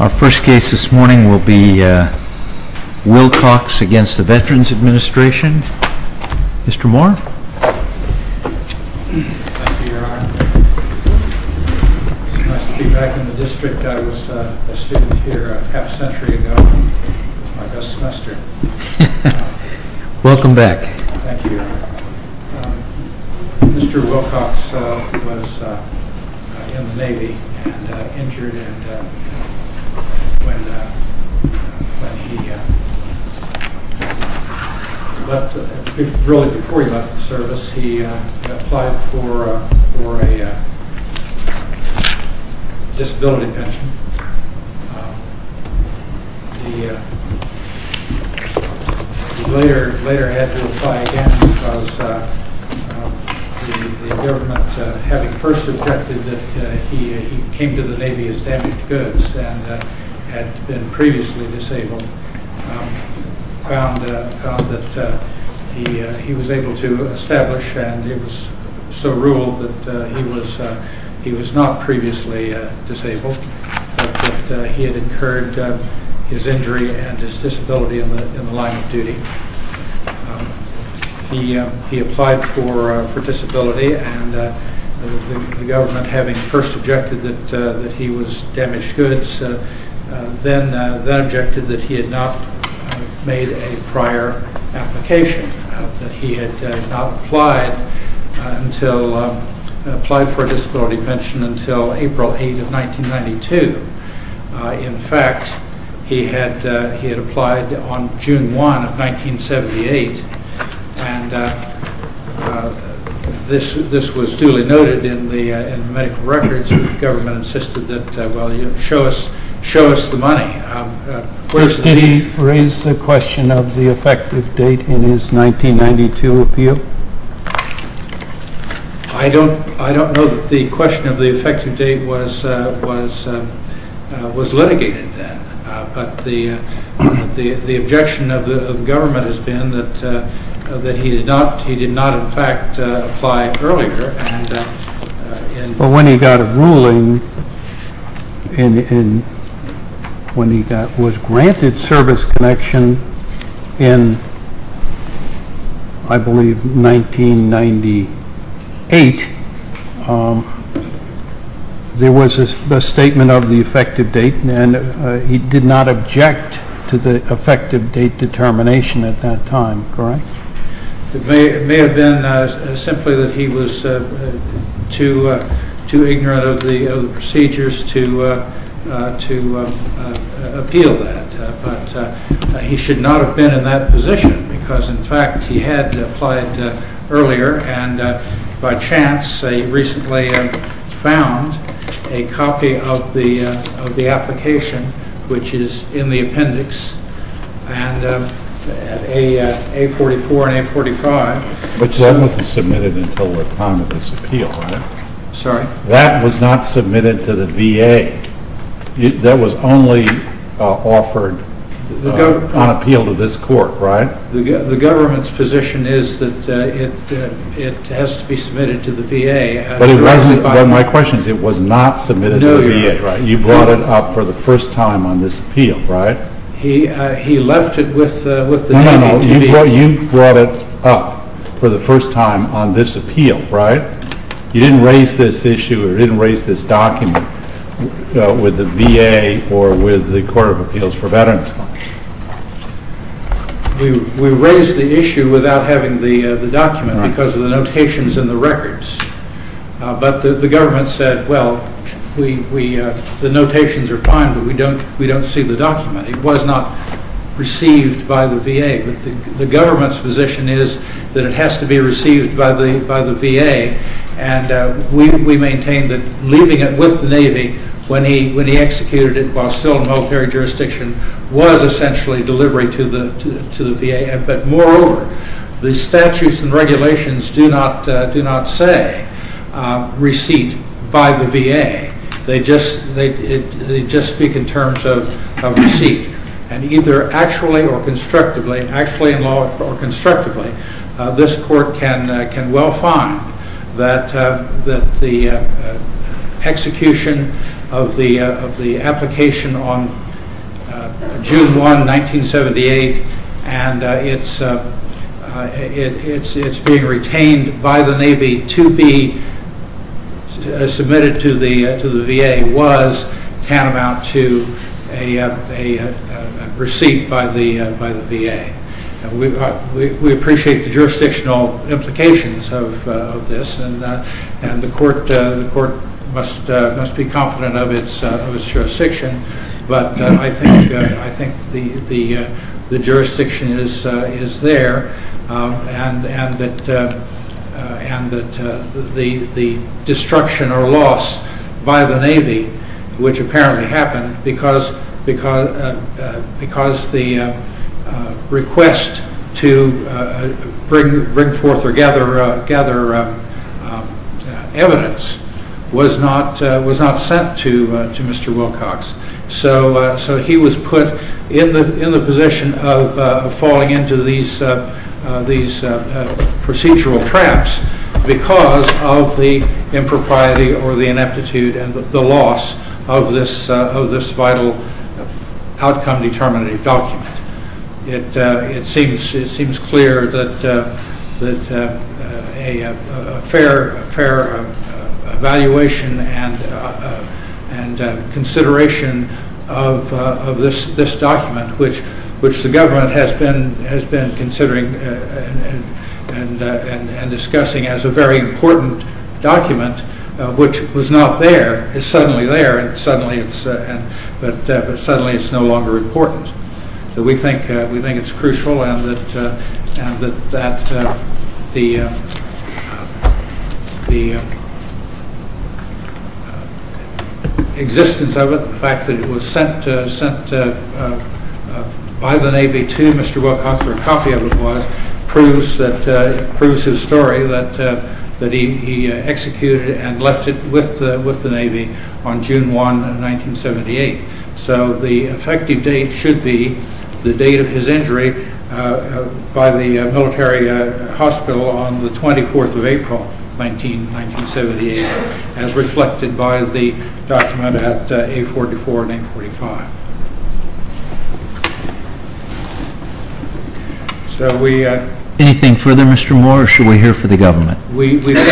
Our first case this morning will be Wilcox v. Veterans Administration. Mr. Moore. Thank you, Your Honor. It's nice to be back in the district. I was a student here a half century ago. It was my best semester. Welcome back. Thank you, Your Honor. Mr. Wilcox was in the Navy and injured when he left. Really, before he left the service, he applied for a disability pension. He later had to apply again because the government, having first objected that he came to the Navy as damaged goods and had been previously disabled, found that he was able to establish, and it was so ruled, that he was not previously disabled, but that he had incurred his injury and disability in the line of duty. He applied for disability and the government, having first objected that he was damaged goods, then objected that he had not made a prior application. He had not applied for a disability pension until April 8, 1992. In fact, he had applied on June 1, 1978. This was duly noted in the medical records. The government insisted that he show us the money. Did he raise the question of the effective date in his 1992 appeal? I don't know that the question of the effective date was litigated then, but the objection of the government has been that he did not, in fact, apply earlier. But when he got a ruling, when he was granted service connection in, I believe, 1998, there was a statement of the effective date, and he did not object to the effective date determination at that time, correct? It may have been simply that he was too ignorant of the procedures to appeal that, but he should not have been in that position because, in fact, he had applied earlier, and by chance, he recently found a copy of the application, which is in the appendix, and A44 and A45. But that wasn't submitted until the time of this appeal, right? Sorry? That was not submitted to the VA. That was only offered on appeal to this court, right? The government's position is that it has to be submitted to the VA. But my question is, it was not submitted to the VA, right? No, Your Honor. You brought it up for the first time on this appeal, right? He left it with the VA. No, no, no. You brought it up for the first time on this appeal, right? You didn't raise this issue or didn't raise this document with the VA or with the Court of Appeals for Veterans Fund. We raised the issue without having the document because of the notations in the records. But the government said, well, the notations are fine, but we don't see the document. It was not received by the VA. But the government's position is that it has to be received by the VA, and we maintain that leaving it with the Navy when he executed it while still in military jurisdiction was essentially delivery to the VA. But moreover, the statutes and regulations do not say receipt by the VA. They just speak in terms of receipt. And either actually or constructively, actually in law or constructively, this court can well find that the execution of the application on June 1, 1978, and it's being retained by the Navy to be submitted to the VA was tantamount to a receipt by the VA. We appreciate the jurisdictional implications of this, and the court must be confident of its jurisdiction. But I think the jurisdiction is there, and that the destruction or loss by the Navy, which apparently happened because the request to bring forth or gather evidence was not sent to Mr. Wilcox. So he was put in the position of falling into these procedural traps because of the impropriety or the ineptitude and the loss of this vital outcome determining document. It seems clear that a fair evaluation and consideration of this document, which the government has been considering and discussing as a very important document, which was not there, is suddenly there, but suddenly it's no longer important. We think it's crucial and that the existence of it, the fact that it was sent by the Navy to Mr. Wilcox, or a copy of it was, proves his story that he executed and left it with the Navy on June 1, 1978. So the effective date should be the date of his injury by the military hospital on the 24th of April, 1978, as reflected by the document at A44 and A45. Anything further, Mr. Moore, or should we hear from the government? We think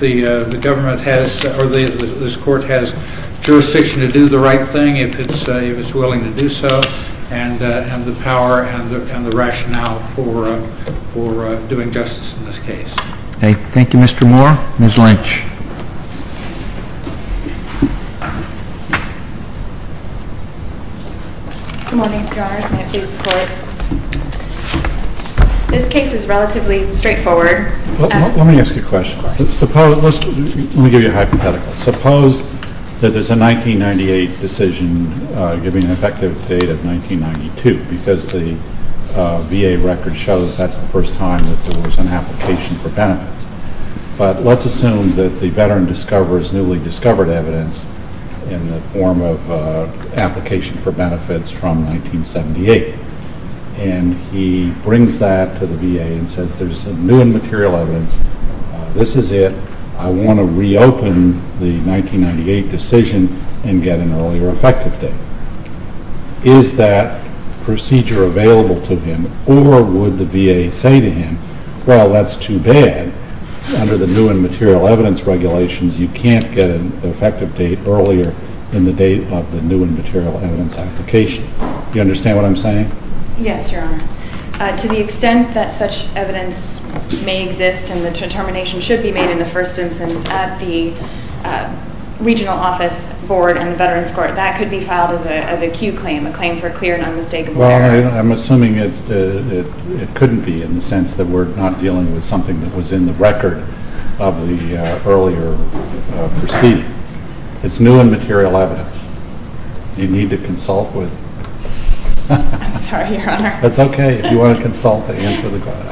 the government has, or this Court has, jurisdiction to do the right thing, if it's willing to do so, and the power and the rationale for doing justice in this case. Okay. Thank you, Mr. Moore. Ms. Lynch. Good morning, Your Honors. May it please the Court. This case is relatively straightforward. Let me ask you a question. Let me give you a hypothetical. Suppose that there's a 1998 decision giving an effective date of 1992, because the VA record shows that's the first time that there was an application for benefits. But let's assume that the veteran discovers newly discovered evidence in the form of an application for benefits from 1978. And he brings that to the VA and says there's new and material evidence. This is it. I want to reopen the 1998 decision and get an earlier effective date. Is that procedure available to him, or would the VA say to him, well, that's too bad. Under the new and material evidence regulations, you can't get an effective date earlier than the date of the new and material evidence application. Do you understand what I'm saying? Yes, Your Honor. To the extent that such evidence may exist and the determination should be made in the first instance at the Regional Office Board and Veterans Court, that could be filed as a Q claim, a claim for clear and unmistakable evidence. Well, I'm assuming it couldn't be in the sense that we're not dealing with something that was in the record of the earlier proceeding. It's new and material evidence. You'd need to consult with... I'm sorry, Your Honor. That's okay. If you want to consult, answer the question.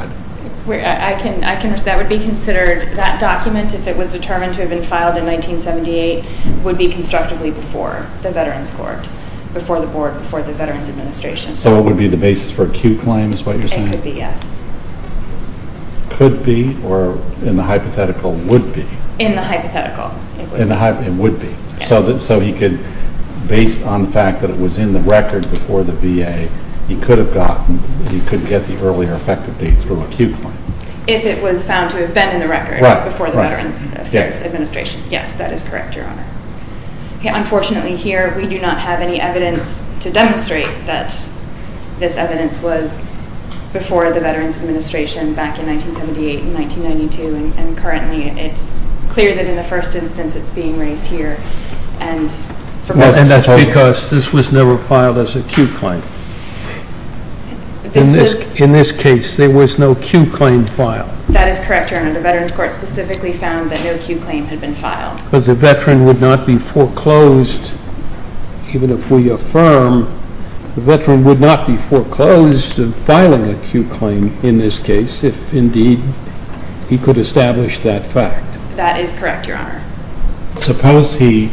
That would be considered. That document, if it was determined to have been filed in 1978, would be constructively before the Veterans Court, before the Board, before the Veterans Administration. So it would be the basis for a Q claim is what you're saying? It could be, yes. Could be, or in the hypothetical, would be? In the hypothetical, it would be. So he could, based on the fact that it was in the record before the VA, he could have gotten, he could get the earlier effective date through a Q claim. If it was found to have been in the record before the Veterans Administration. Yes, that is correct, Your Honor. Unfortunately here, we do not have any evidence to demonstrate that this evidence was before the Veterans Administration, back in 1978 and 1992, and currently it's clear that in the first instance it's being raised here. And that's because this was never filed as a Q claim. In this case, there was no Q claim filed. That is correct, Your Honor. The Veterans Court specifically found that no Q claim had been filed. But the Veteran would not be foreclosed, even if we affirm, the Veteran would not be foreclosed in filing a Q claim in this case if indeed he could establish that fact. That is correct, Your Honor. Suppose he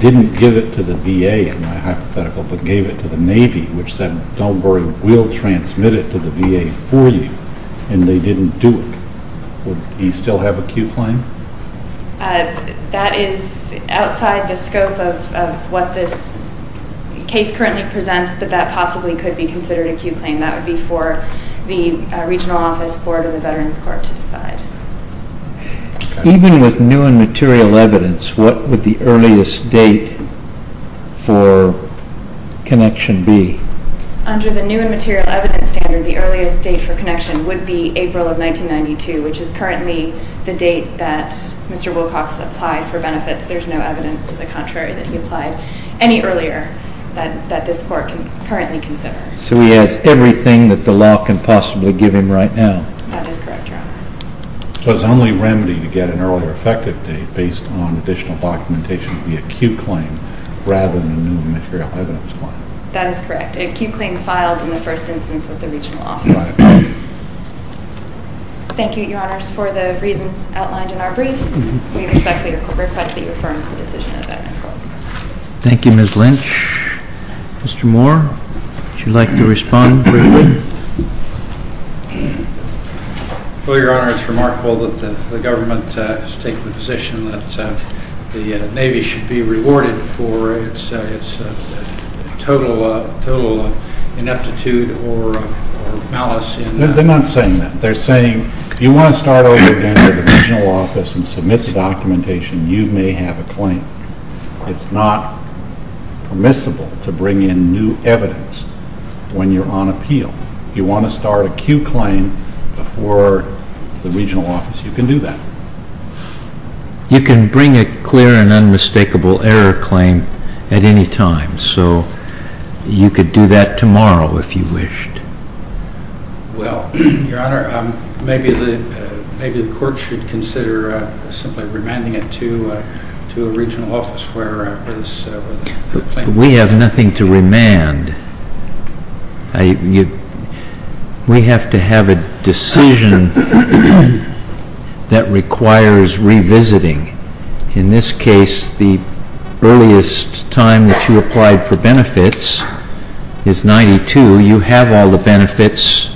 didn't give it to the VA, in my hypothetical, but gave it to the Navy, which said, don't worry, we'll transmit it to the VA for you. And they didn't do it. Would he still have a Q claim? That is outside the scope of what this case currently presents, but that possibly could be considered a Q claim. That would be for the Regional Office Board of the Veterans Court to decide. Even with new and material evidence, what would the earliest date for connection be? Under the new and material evidence standard, the earliest date for connection would be April of 1992, which is currently the date that Mr. Wilcox applied for benefits. There's no evidence to the contrary that he applied any earlier that this Court can currently consider. So he has everything that the law can possibly give him right now. That is correct, Your Honor. So it's the only remedy to get an earlier effective date based on additional documentation would be a Q claim rather than a new and material evidence claim. That is correct. A Q claim filed in the first instance with the Regional Office. Thank you, Your Honors, for the reasons outlined in our briefs. We respectfully request that you affirm the decision of the Veterans Court. Thank you, Ms. Lynch. Mr. Moore, would you like to respond briefly? Your Honor, it's remarkable that the government has taken the position that the Navy should be rewarded for its total ineptitude or malice. They're not saying that. They're saying if you want to start over again with the Regional Office and submit the documentation, you may have a claim. It's not permissible to bring in new evidence when you're on appeal. If you want to start a Q claim before the Regional Office, you can do that. You can bring a clear and unmistakable error claim at any time. So you could do that tomorrow if you wished. Well, Your Honor, maybe the court should consider simply remanding it to a Regional Office. We have nothing to remand. We have to have a decision that requires revisiting. In this case, the earliest time that you applied for benefits is 1992. You have all the benefits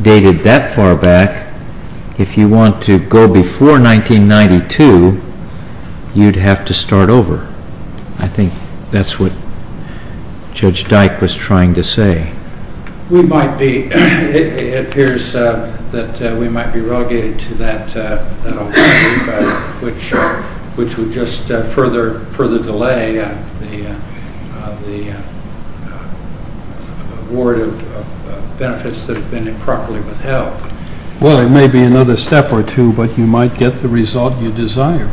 dated that far back. If you want to go before 1992, you'd have to start over. I think that's what Judge Dyke was trying to say. It appears that we might be relegated to that which would just further delay the award of benefits that have been improperly withheld. Well, it may be another step or two, but you might get the result you desire.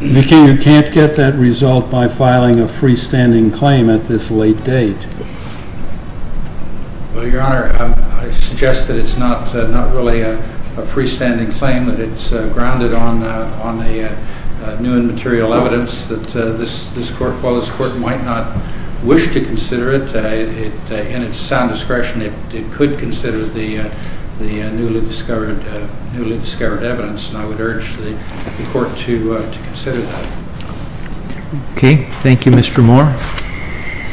You can't get that result by filing a freestanding claim at this late date. Well, Your Honor, I suggest that it's not really a freestanding claim, that it's grounded on the new and material evidence that this court might not wish to consider it. In its sound discretion, it could consider the newly discovered evidence. I would urge the court to consider that. Okay. Thank you, Mr. Moore.